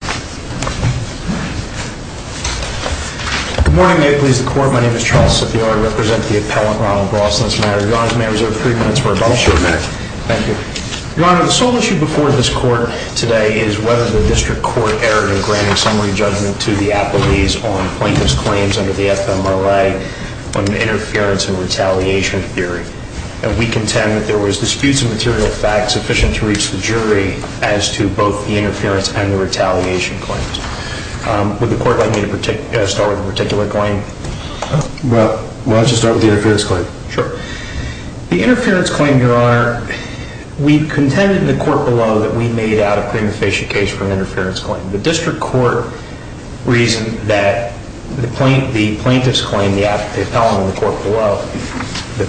The sole issue before this court today is whether the district court erred in granting summary judgment to the appellees on plaintiff's claims under the FMRA on interference and retaliation theory. And we contend that there were disputes of material facts sufficient to reach the jury as to both the interference and the retaliation claims. Would the court like me to start with a particular claim? Judge Goldberg Well, why don't you start with the interference claim. Gilhuly Sure. The interference claim, Your Honor, we contended in the court below that we made out a pre-interfecient case for an interference claim. The district court reasoned that the plaintiff's claim, the appellant in the court below, the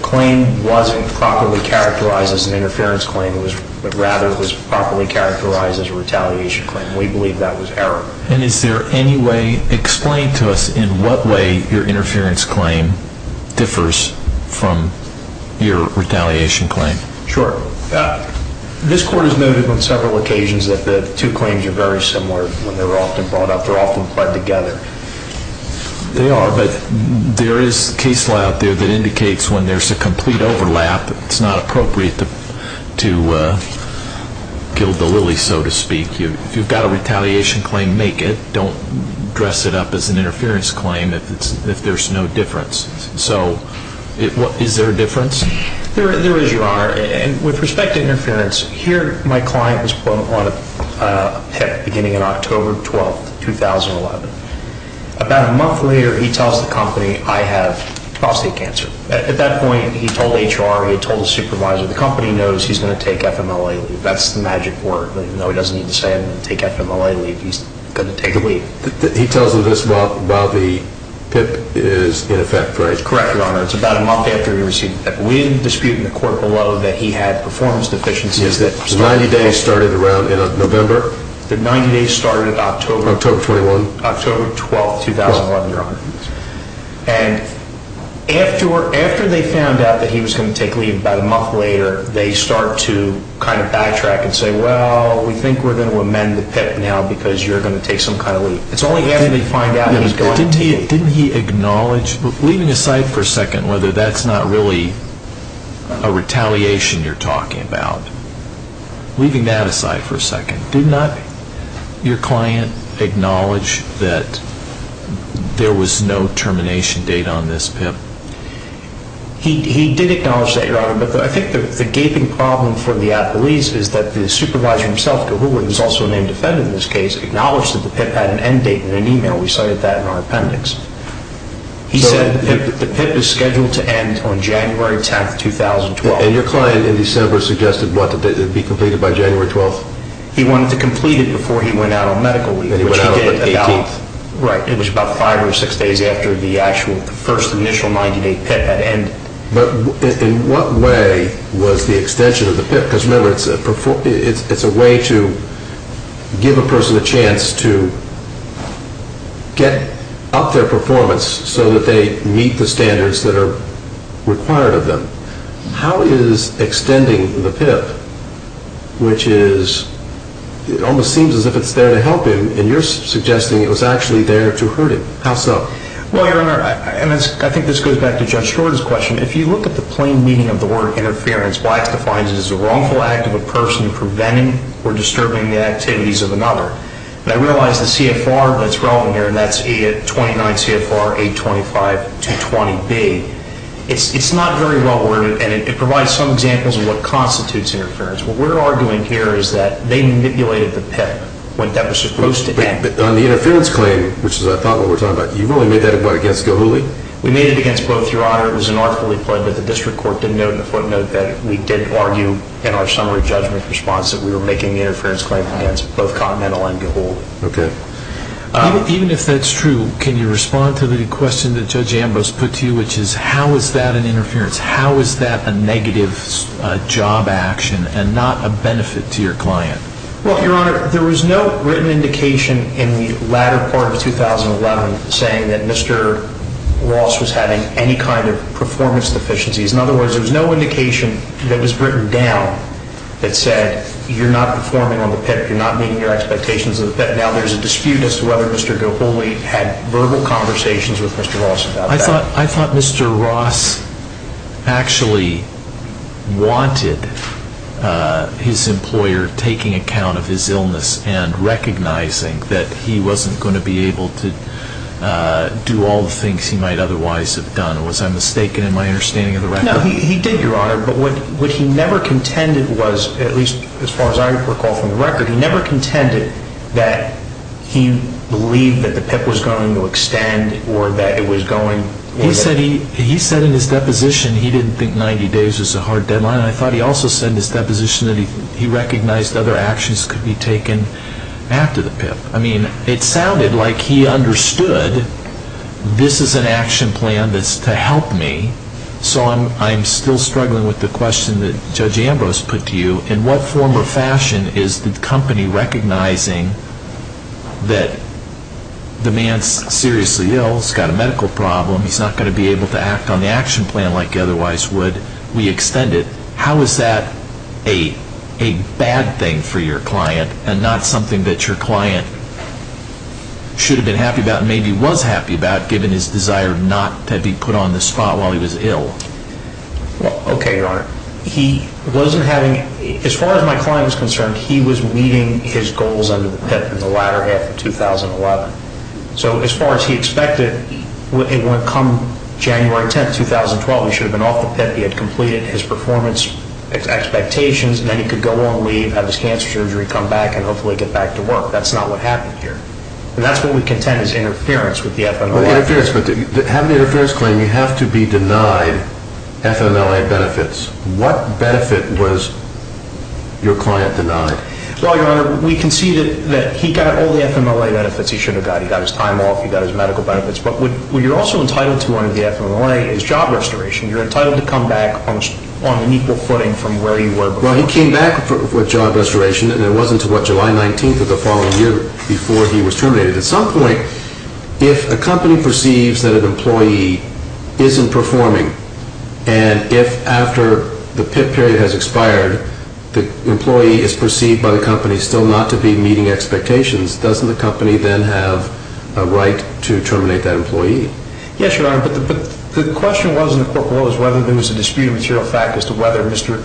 retaliation claim. We believe that was error. Judge Goldberg And is there any way, explain to us in what way your interference claim differs from your retaliation claim? Gilhuly Sure. This court has noted on several occasions that the two claims are very similar when they were often brought up. They're often played together. Judge Goldberg They are, but there is case law out there that indicates when there's a complete overlap, it's not appropriate to guilt the plaintiff with a lily, so to speak. If you've got a retaliation claim, make it. Don't dress it up as an interference claim if there's no difference. So is there a difference? Gilhuly There is, Your Honor. And with respect to interference, here my client was put on a PIP beginning on October 12, 2011. About a month later, he tells the company, I have prostate cancer. At that point, he told HR, he told the supervisor, the company knows he's going to take FMLA leave. That's the magic word. Even though he doesn't need to say it, take FMLA leave, he's going to take a leave. Judge Goldberg He tells them this while the PIP is in effect, Gilhuly Correct, Your Honor. It's about a month after he received the PIP. We didn't dispute in the court below that he had performance deficiencies. Judge Goldberg The 90 days started around November? Gilhuly The 90 days started October 12, 2011, Your Honor. And after they found out that he was going to take leave about a month later, they start to kind of backtrack and say, well, we think we're going to amend the PIP now because you're going to take some kind of leave. It's only after they find out that he's going. Judge Goldberg Didn't he acknowledge, leaving aside for a second, whether that's not really a retaliation you're talking about, leaving that aside for a second, did not your client acknowledge that there was no termination date on this Gilhuly He did acknowledge that, Your Honor. But I think the gaping problem for the appellees is that the supervisor himself, Gilhuly, who's also a named defendant in this case, acknowledged that the PIP had an end date in an email. We cited that in our appendix. He said the PIP is scheduled to end on January 10, 2012. Judge Goldberg And your client in December suggested, what, that it be completed by January 12? Gilhuly He wanted to complete it before he went out on medical leave. Judge Goldberg And he went out on the 18th? Gilhuly Right. It was about five or six days after the actual first initial 90-day PIP had ended. Judge Goldberg But in what way was the extension of the PIP? Because remember, it's a way to give a person a chance to get up their performance so that they meet the standards that are required of them. How is extending the PIP, which is, it almost seems as if it's there to help him, and you're suggesting it was actually there to hurt him. How so? Gilhuly Well, Your Honor, and I think this goes back to Judge Schwartz's question, if you look at the plain meaning of the word interference, Black's defines it as a wrongful act of a person preventing or disturbing the activities of another. And I realize the CFR that's relevant here, and that's 29 CFR 825-220B, it's not very well worded, and it provides some examples of what constitutes interference. What we're arguing here is that they manipulated the PIP when that was supposed to end. Judge Goldberg But on the interference claim, which is what we're talking about, you really made that against Gilhuly? Gilhuly We made it against both, Your Honor. It was an artfully pled that the district court didn't note in the footnote that we did argue in our summary judgment response that we were making the interference claim against both Continental and Gilhuly. Judge Goldberg Okay. Even if that's true, can you respond to the question that Judge Ambrose put to you, which is, how is that an interference? How is that a negative job action and not a benefit to your client? Judge Ambrose Well, Your Honor, there was no written indication in the latter part of 2011 saying that Mr. Ross was having any kind of performance deficiencies. In other words, there was no indication that was written down that said, you're not performing on the PIP, you're not meeting your expectations of the PIP. Now, there's a dispute as to whether Mr. Gilhuly had verbal conversations with Mr. Ross about that. I thought Mr. Ross actually wanted his employer taking account of his illness and recognizing that he wasn't going to be able to do all the things he might otherwise have done. Was I mistaken in my understanding of the record? Judge Goldberg No, he did, Your Honor, but what he never contended was, at least as far as I recall from the record, he never contended that he was going. Judge Ambrose He said in his deposition he didn't think 90 days was a hard deadline, and I thought he also said in his deposition that he recognized other actions could be taken after the PIP. I mean, it sounded like he understood this is an action plan that's to help me, so I'm still struggling with the question that Judge Ambrose put to you. In what form or fashion is the company recognizing that the man's seriously ill, he's got a medical problem, he's not going to be able to act on the action plan like he otherwise would, we extend it, how is that a bad thing for your client and not something that your client should have been happy about and maybe was happy about given his desire not to be put on the spot while he was ill? Judge Goldberg Okay, Your Honor. He wasn't having, as far as my client was concerned, he was meeting his goals under the PIP in the latter half of 2011. So as far as he expected, come January 10, 2012, he should have been off the PIP, he had completed his performance expectations, and then he could go on leave, have his cancer surgery, come back, and hopefully get back to work. That's not what happened here. And that's what we contend is interference with the FMLA. Well, interference, but having an interference claim, you have to be denied FMLA benefits. What benefit was your client denied? Well, Your Honor, we can see that he got all the FMLA benefits he should have got. He got his time off, he got his medical benefits. But what you're also entitled to under the FMLA is job restoration. You're entitled to come back on an equal footing from where you were before. Well, he came back with job restoration, and it wasn't until, what, July 19 of the following year before he was terminated. At some point, if a company perceives that an employee isn't performing, and if after the PIP period has expired, the employee is perceived by the company still not to be meeting expectations, doesn't the company then have a right to terminate that employee? Yes, Your Honor, but the question was in the court of law was whether there was a disputed material fact as to whether Mr.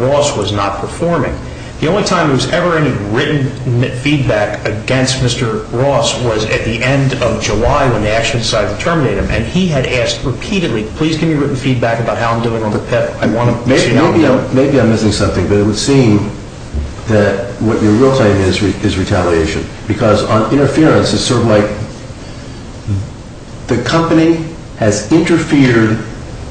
Ross was not performing. The only time there was ever any written feedback against Mr. Ross was at the end of July when they actually decided to terminate him, and he had asked repeatedly, please give me written feedback about how I'm doing on the PIP. Maybe I'm missing something, but it would seem that what you're really saying is retaliation. Because on interference, it's sort of like the company has interfered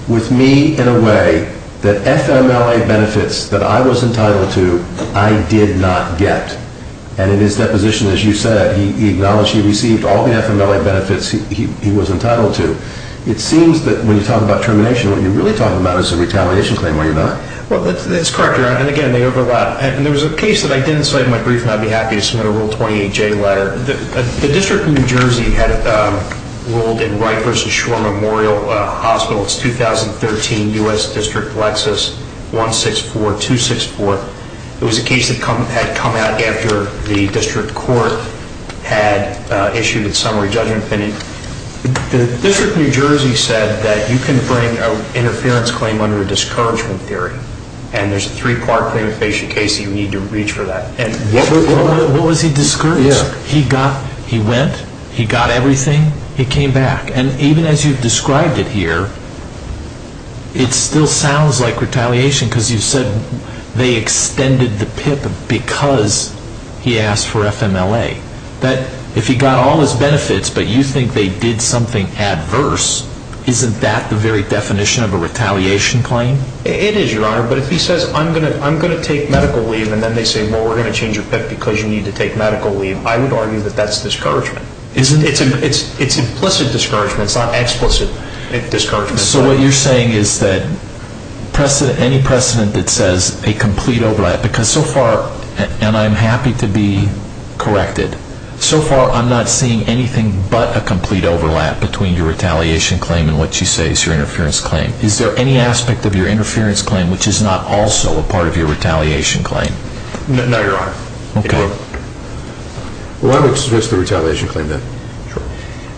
with me in a way that FMLA benefits that I was entitled to, I did not get. And in his deposition, as you said, he acknowledged he received all the FMLA benefits he was entitled to. It seems that when you talk about termination, what you're really talking about is a retaliation claim, are you not? Well, that's correct, Your Honor, and again, they overlap. And there was a case that I didn't cite in my brief, and I'd be happy to submit a Rule 28J letter. The District of New Jersey had ruled in Wright v. Shore Memorial Hospital, it's 2013, U.S. District, Lexis, 164264. It was a case that had come out after the district court had issued its summary judgment opinion. The District of New Jersey said that you can bring an interference claim under a discouragement theory, and there's a three-part claim of facial case that you need to reach for that. What was he discouraged? He went, he got everything, he came back. And even as you've described it here, it still sounds like retaliation, because you said they extended the PIP because he asked for FMLA. If he got all his benefits, but you think they did something adverse, isn't that the very definition of a retaliation claim? It is, Your Honor, but if he says, I'm going to take medical leave, and then they say, well, we're going to change your PIP because you need to take medical leave, I would argue that that's discouragement. It's implicit discouragement, it's not explicit discouragement. So what you're saying is that any precedent that says a complete overlap, because so far, and I'm happy to be corrected, so far I'm not seeing anything but a complete overlap between your retaliation claim and what you say is your interference claim. Is there any aspect of your interference claim which is not also a part of your retaliation claim? No, Your Honor. Okay. Well, I would suggest the retaliation claim, then. Sure.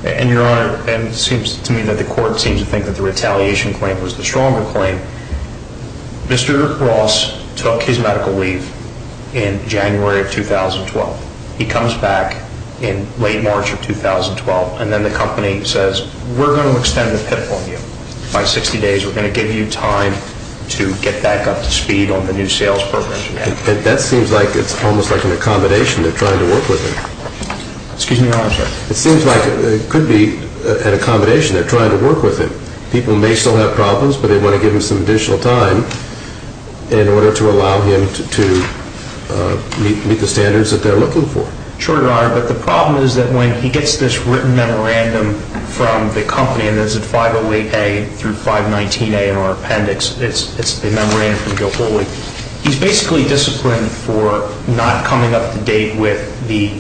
And, Your Honor, it seems to me that the court seems to think that the retaliation claim was the stronger claim. Mr. Rick Ross took his medical leave in January of 2012. He comes back in late March of 2012, and then the company says, we're going to extend the PIP on you. By 60 days, we're going to give you time to get back up to speed on the new sales program. That seems like it's almost like an accommodation. They're trying to work with him. Excuse me, Your Honor. It seems like it could be an accommodation. They're trying to work with him. People may still have problems, but they want to give him some additional time in order to allow him to meet the standards that they're looking for. Sure, Your Honor. But the problem is that when he gets this written memorandum from the company, and there's a 508A through 519A in our appendix. It's a memorandum from Joe Foley. He's basically disciplined for not coming up to date with the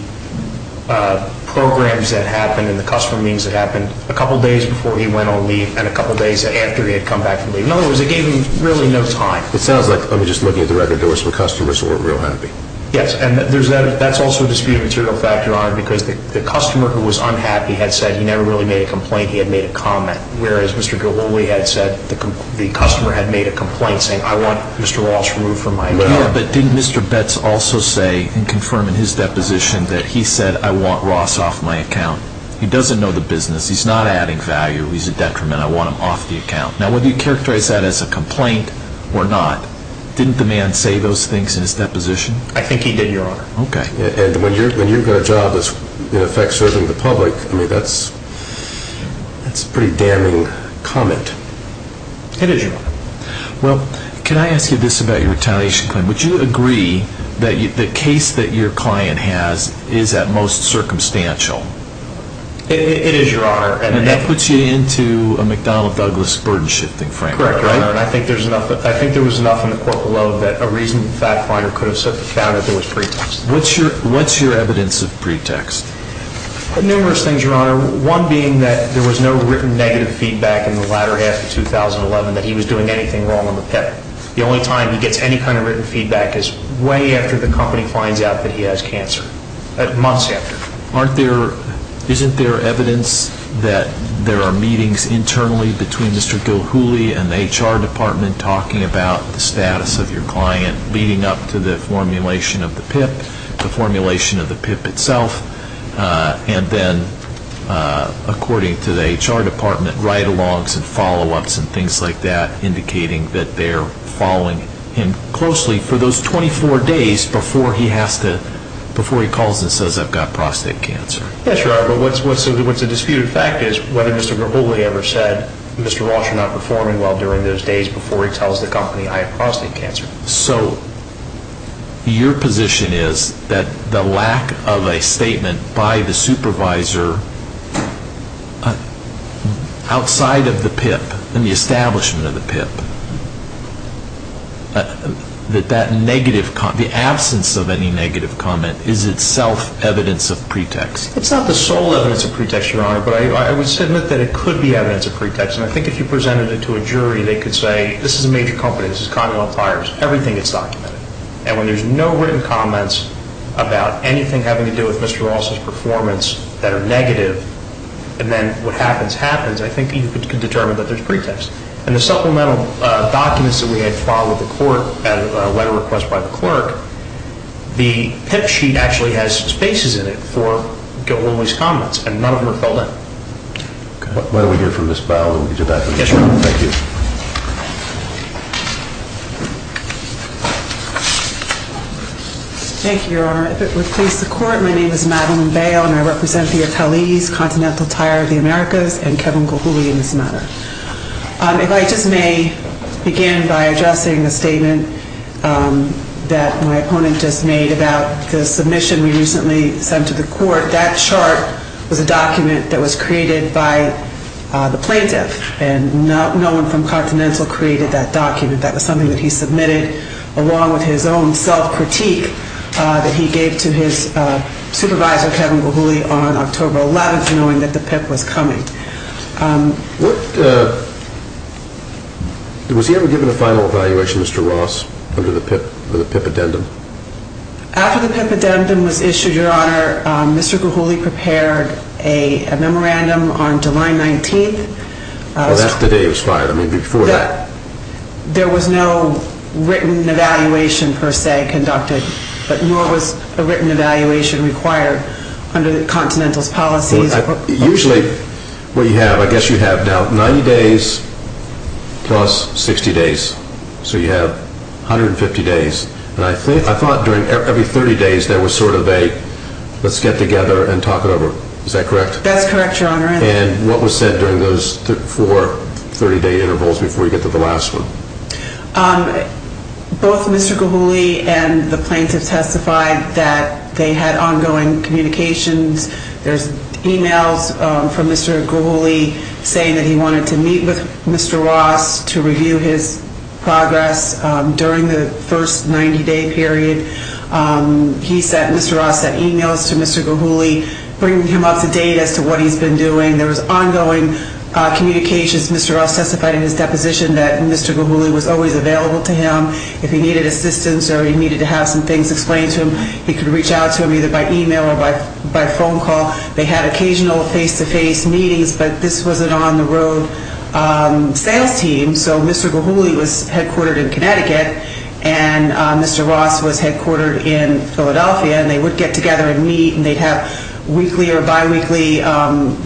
programs that happened and the customer meetings that happened a couple days before he went on leave and a couple days after he had come back from leave. In other words, it gave him really no time. It sounds like, just looking at the record, there were some customers who were real happy. Yes, and that's also a disputed material fact, Your Honor, because the customer who was unhappy had said he never really made a complaint. He had made a comment. Whereas Mr. Gololi had said the customer had made a complaint saying, I want Mr. Ross removed from my account. Yeah, but didn't Mr. Betts also say and confirm in his deposition that he said, I want Ross off my account? He doesn't know the business. He's not adding value. He's a detriment. I want him off the account. Now, whether you characterize that as a complaint or not, didn't the man say those things in his deposition? I think he did, Your Honor. Okay. And when you've got a job that's, in effect, serving the public, I mean, that's a pretty damning comment. It is, Your Honor. Well, can I ask you this about your retaliation claim? Would you agree that the case that your client has is at most circumstantial? It is, Your Honor. And that puts you into a McDonnell Douglas burden-shifting framework, right? Correct, Your Honor. And I think there was enough in the court below that a reasoned fact-finder could have set the count if it was pretext. What's your evidence of pretext? Numerous things, Your Honor. One being that there was no written negative feedback in the latter half of 2011 that he was doing anything wrong on the PIP. The only time he gets any kind of written feedback is way after the company finds out that he has cancer, months after. Isn't there evidence that there are meetings internally between Mr. Gilhooly and the HR department talking about the status of your client leading up to the formulation of the PIP, the formulation of the PIP itself, and then, according to the HR department, write-alongs and follow-ups and things like that indicating that they're following him closely for those 24 days before he calls and says, I've got prostate cancer? Yes, Your Honor. But what's a disputed fact is whether Mr. Gilhooly ever said, Mr. Walsh is not performing well during those days before he tells the company I have prostate cancer. So your position is that the lack of a statement by the supervisor outside of the PIP, in the establishment of the PIP, that that negative comment, the absence of any negative comment is itself evidence of pretext? It's not the sole evidence of pretext, Your Honor, but I would submit that it could be evidence of pretext. And I think if you presented it to a jury, they could say, this is a major company, this is Connell Appliers, everything is documented. And when there's no written comments about anything having to do with Mr. Walsh's performance that are negative, and then what happens, happens, I think you could determine that there's pretext. And the supplemental documents that we had filed with the court at a letter request by the clerk, the PIP sheet actually has spaces in it for Gilhooly's comments, and none of them are filled in. OK. Why don't we hear from Ms. Bail, and we can do that. Yes, Your Honor. Thank you. Thank you, Your Honor. If it would please the Court, my name is Madeline Bail, and I represent the Attali's Continental Tire of the Americas and Kevin Gilhooly in this matter. If I just may begin by addressing the statement that my opponent just made about the submission we recently sent to the court, that chart was a document that was created by the plaintiff, and no one from Continental created that document. That was something that he submitted along with his own self-critique that he gave to his supervisor, Kevin Gilhooly, on October 11th, knowing that the PIP was coming. Was he ever given a final evaluation, Mr. Ross, under the PIP addendum? After the PIP addendum was issued, Your Honor, Mr. Gilhooly prepared a memorandum on July 19th. Well, that's the day it was filed. I mean, before that. There was no written evaluation, per se, conducted, but nor was a written evaluation required under the Continental's policies. Usually, what you have, I guess you have now 90 days plus 60 days, so you have 150 days. And I thought every 30 days there was sort of a, let's get together and talk it over. Is that correct? That's correct, Your Honor. And what was said during those four 30-day intervals before you get to the last one? Both Mr. Gilhooly and the plaintiff testified that they had ongoing communications. There's emails from Mr. Gilhooly saying that he wanted to meet with Mr. Ross to review his progress during the first 90-day period. He sent, Mr. Ross sent emails to Mr. Gilhooly, bringing him up to date as to what he's been doing. There was ongoing communications. Mr. Ross testified in his deposition that Mr. Gilhooly was always available to him. If he needed assistance or he needed to have some things explained to him, he could reach out to him either by email or by phone call. They had occasional face-to-face meetings, but this was an on-the-road sales team. So Mr. Gilhooly was headquartered in Connecticut, and Mr. Ross was headquartered in Philadelphia, and they would get together and meet, and they'd have weekly or biweekly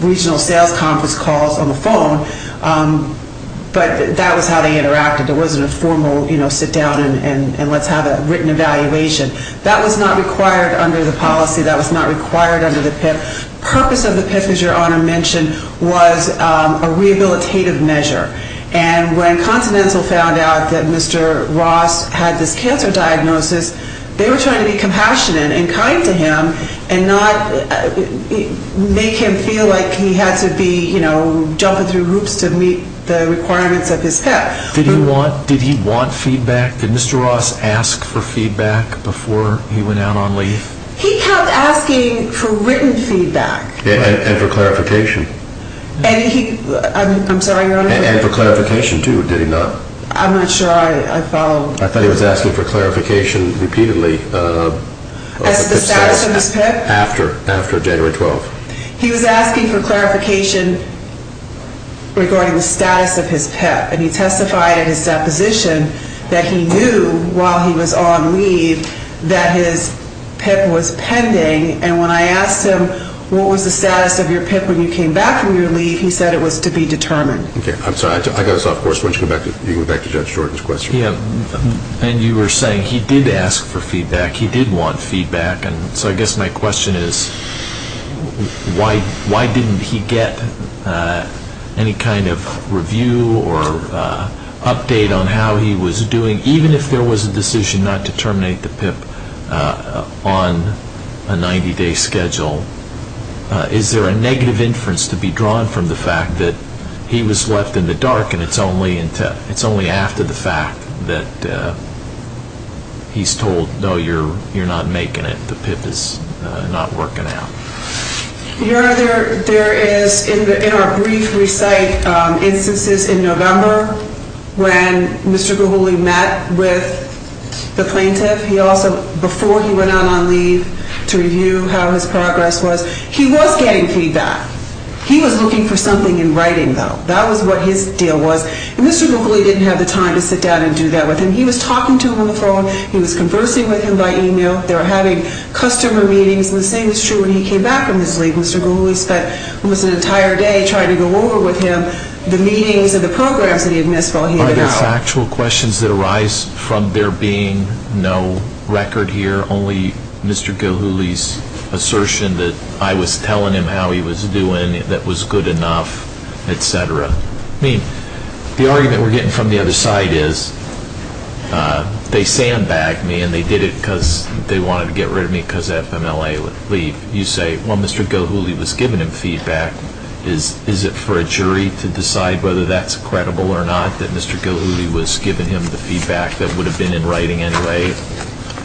regional sales conference calls on the phone. But that was how they interacted. There wasn't a formal, you know, sit down and let's have a written evaluation. That was not required under the policy. That was not required under the PIP. Purpose of the PIP, as Your Honor mentioned, was a rehabilitative measure. And when Continental found out that Mr. Ross had this cancer diagnosis, they were trying to be compassionate and kind to him and not make him feel like he had to be, you know, put himself through groups to meet the requirements of his PIP. Did he want feedback? Did Mr. Ross ask for feedback before he went out on leave? He kept asking for written feedback. And for clarification. I'm sorry, Your Honor. And for clarification, too, did he not? I'm not sure I followed. I thought he was asking for clarification repeatedly of the PIP status. As the status of his PIP? After January 12th. He was asking for clarification regarding the status of his PIP. And he testified in his deposition that he knew while he was on leave that his PIP was pending. And when I asked him what was the status of your PIP when you came back from your leave, he said it was to be determined. Okay. I'm sorry. I got us off course. Why don't you go back to Judge Jordan's question? Yeah. And you were saying he did ask for feedback. He did want feedback. And so I guess my question is, why didn't he get any kind of review or update on how he was doing, even if there was a decision not to terminate the PIP on a 90-day schedule? Is there a negative inference to be drawn from the fact that he was left in the dark and it's only after the fact that he's told, no, you're not making it, the PIP is not working out? Your Honor, there is, in our brief recite, instances in November when Mr. Guguli met with the plaintiff, he also, before he went out on leave to review how his progress was, he was getting feedback. He was looking for something in writing, though. That was what his deal was. And Mr. Guguli didn't have the time to sit down and do that with him. He was talking to him on the phone. He was conversing with him by email. They were having customer meetings. And the same is true when he came back from his leave. Mr. Guguli spent almost an entire day trying to go over with him the meetings and the programs that he had missed while he was out. Are those actual questions that arise from there being no record here, only Mr. Guguli's assertion that I was telling him how he was doing, that was good enough, et cetera? I mean, the argument we're getting from the other side is, they sandbagged me and they did it because they wanted to get rid of me because FMLA would leave. You say, well, Mr. Guguli was giving him feedback. Is it for a jury to decide whether that's credible or not, that Mr. Guguli was giving him the feedback that would have been in writing anyway,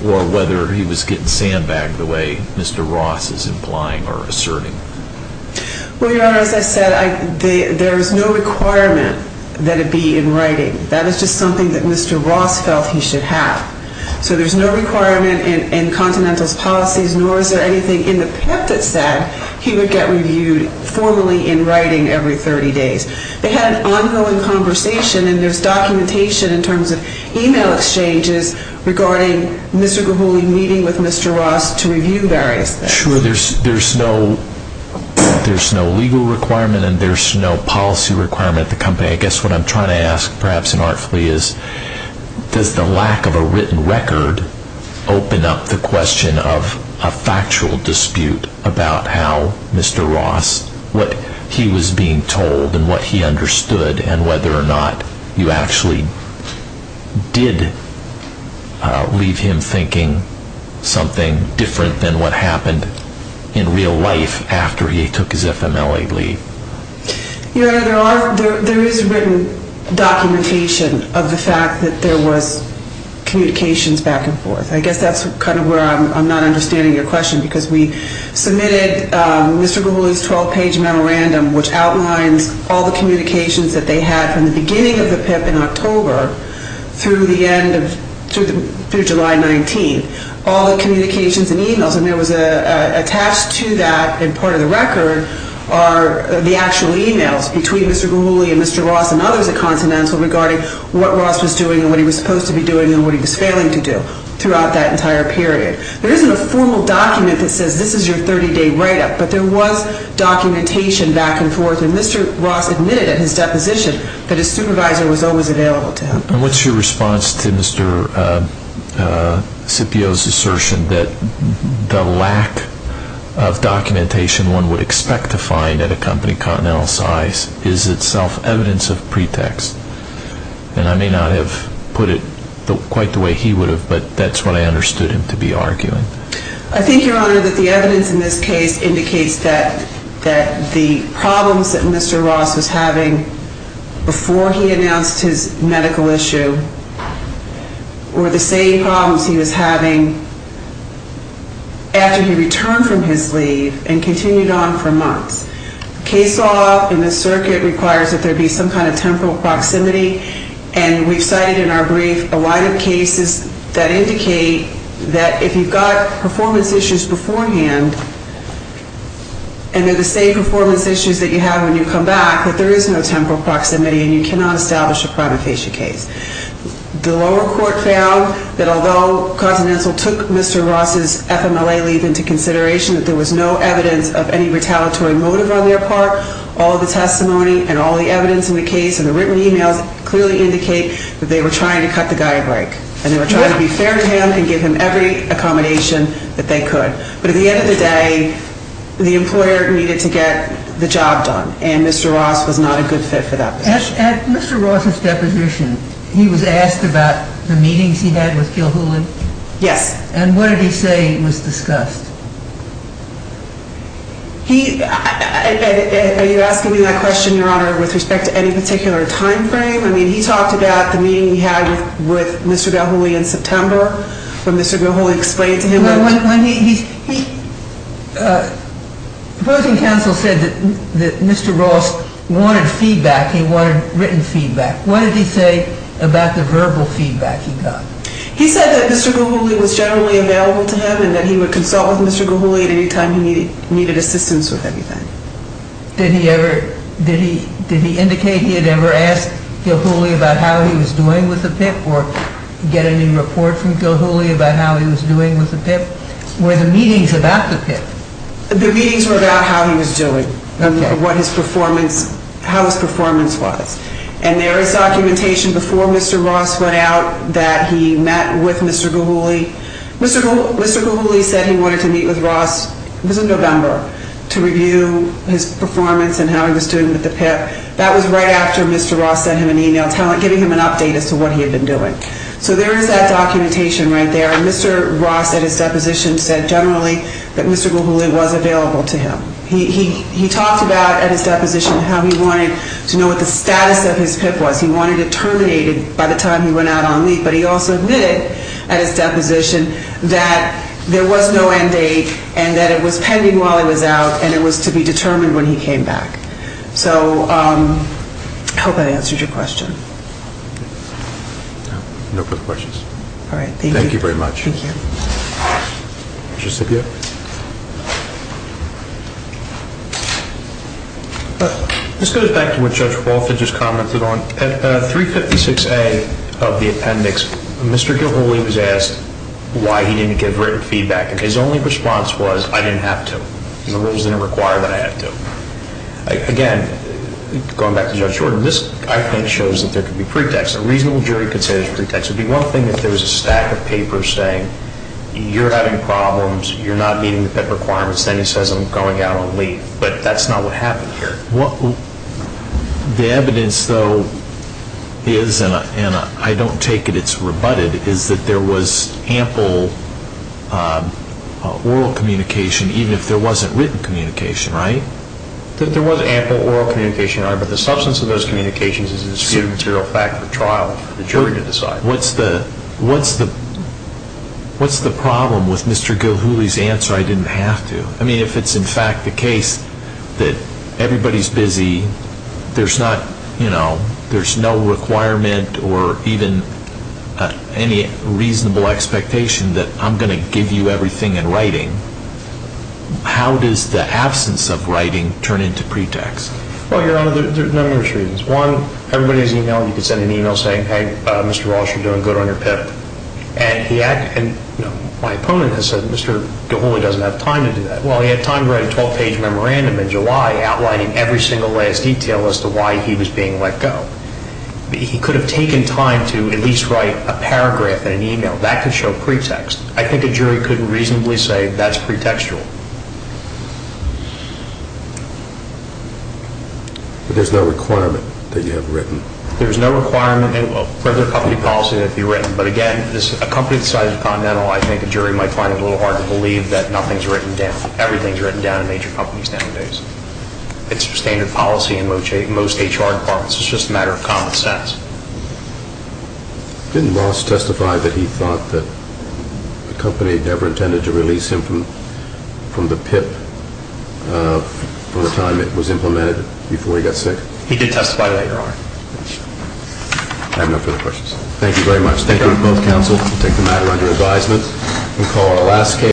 or whether he was getting sandbagged the way Mr. Ross is implying or asserting? Well, Your Honor, as I said, there is no requirement that it be in writing. That is just something that Mr. Ross felt he should have. So there's no requirement in Continental's policies, nor is there anything in the PIP that said he would get reviewed formally in writing every 30 days. They had an ongoing conversation, and there's documentation in terms of email exchanges regarding Mr. Guguli meeting with Mr. Ross to review various things. Sure, there's no legal requirement and there's no policy requirement at the company. I guess what I'm trying to ask, perhaps inartfully, is does the lack of a written record open up the question of a factual dispute about how Mr. Ross, what he was being told and what he understood, and whether or not you actually did leave him thinking something different than what happened in real life after he took his FMLA leave? Your Honor, there is written documentation of the fact that there was communications back and forth. I guess that's kind of where I'm not understanding your question because we submitted Mr. Guguli's 12-page memorandum which outlines all the communications that they had from the beginning of the PIP in October through July 19th. All the communications and emails, and there was attached to that in part of the record, are the actual emails between Mr. Guguli and Mr. Ross and others at Continental regarding what Ross was doing and what he was supposed to be doing and what he was failing to do throughout that entire period. There isn't a formal document that says this is your 30-day write-up, but there was documentation back and forth and Mr. Ross admitted at his deposition that his supervisor was always available to him. And what's your response to Mr. Scipio's assertion that the lack of documentation one would expect to find at a company continental size is itself evidence of pretext? And I may not have put it quite the way he would have, but that's what I understood him to be arguing. I think, Your Honor, that the evidence in this case indicates that the problems that Mr. Ross was having before he announced his medical issue were the same problems he was having after he returned from his leave and continued on for months. Case law in this circuit requires that there be some kind of temporal proximity and we've cited in our brief a line of cases that indicate that if you've got performance issues beforehand and they're the same performance issues that you have when you come back, that there is no temporal proximity and you cannot establish a prima facie case. The lower court found that although Continental took Mr. Ross' FMLA leave into consideration that there was no evidence of any retaliatory motive on their part, all the testimony and all the evidence in the case and the written emails clearly indicate that they were trying to cut the guy a break. And they were trying to be fair to him and give him every accommodation that they could. But at the end of the day, the employer needed to get the job done and Mr. Ross was not a good fit for that position. At Mr. Ross' deposition, he was asked about the meetings he had with Gil Hooley? Yes. And what did he say was discussed? Are you asking me that question, Your Honor, with respect to any particular time frame? I mean, he talked about the meeting he had with Mr. Gil Hooley in September when Mr. Gil Hooley explained to him... When he... The opposing counsel said that Mr. Ross wanted feedback. He wanted written feedback. What did he say about the verbal feedback he got? He said that Mr. Gil Hooley was generally available to him and that he would consult with Mr. Gil Hooley at any time he needed assistance with anything. Did he ever... Did he indicate he had ever asked Gil Hooley about how he was doing with the PIP or get any report from Gil Hooley about how he was doing with the PIP? Were the meetings about the PIP? The meetings were about how he was doing. Okay. What his performance... How his performance was. And there is documentation before Mr. Ross went out that he met with Mr. Gil Hooley. Mr. Gil Hooley said he wanted to meet with Ross... It was in November, to review his performance and how he was doing with the PIP. That was right after Mr. Ross sent him an email giving him an update as to what he had been doing. So there is that documentation right there. And Mr. Ross, at his deposition, said generally that Mr. Gil Hooley was available to him. He talked about, at his deposition, how he wanted to know what the status of his PIP was. He wanted it terminated by the time he went out on leave. But he also admitted, at his deposition, that there was no end date and that it was pending while he was out and it was to be determined when he came back. So I hope that answers your question. No further questions. All right. Thank you. Thank you very much. Thank you. Mr. Sibiot? This goes back to what Judge Walford just commented on. At 356A of the appendix, Mr. Gil Hooley was asked why he didn't give written feedback. And his only response was, I didn't have to. The rules didn't require that I have to. Again, going back to Judge Jordan, this, I think, shows that there could be pretexts. A reasonable jury could say there's pretexts. if there was a stack of papers saying, you're having problems, you're not doing well, you're not meeting the PIP requirements, then he says I'm going out on leave. But that's not what happened here. The evidence, though, is, and I don't take it it's rebutted, is that there was ample oral communication, even if there wasn't written communication, right? There was ample oral communication, but the substance of those communications is a material fact for trial for the jury to decide. What's the problem with Mr. Gil Hooley's answer, I didn't have to? I mean, if it's in fact the case that everybody's busy, there's not, you know, there's no requirement or even any reasonable expectation that I'm going to give you everything in writing, how does the absence of writing turn into pretext? Well, Your Honor, there are a number of reasons. One, everybody's email, you could send an email saying, hey, Mr. Walsh, you're doing good on your PIP. And my opponent has said, Mr. Gil Hooley doesn't have time to do that. Well, he had time to write a 12-page memorandum in July outlining every single last detail as to why he was being let go. He could have taken time to at least write a paragraph in an email. That could show pretext. I think a jury couldn't reasonably say that's pretextual. But there's no requirement that you have written? There's no requirement for the company policy that it be written. But again, a company the size of Continental, I think a jury might find it a little hard to believe that nothing's written down. Everything's written down in major companies nowadays. It's standard policy in most HR departments. It's just a matter of common sense. Didn't Walsh testify that he thought that the company never intended to release him from the PIP from the time it was implemented before he got sick? He did testify later on. I have no further questions. Thank you very much. Thank you both counsel. We'll take the matter under advisement. We'll call our last case.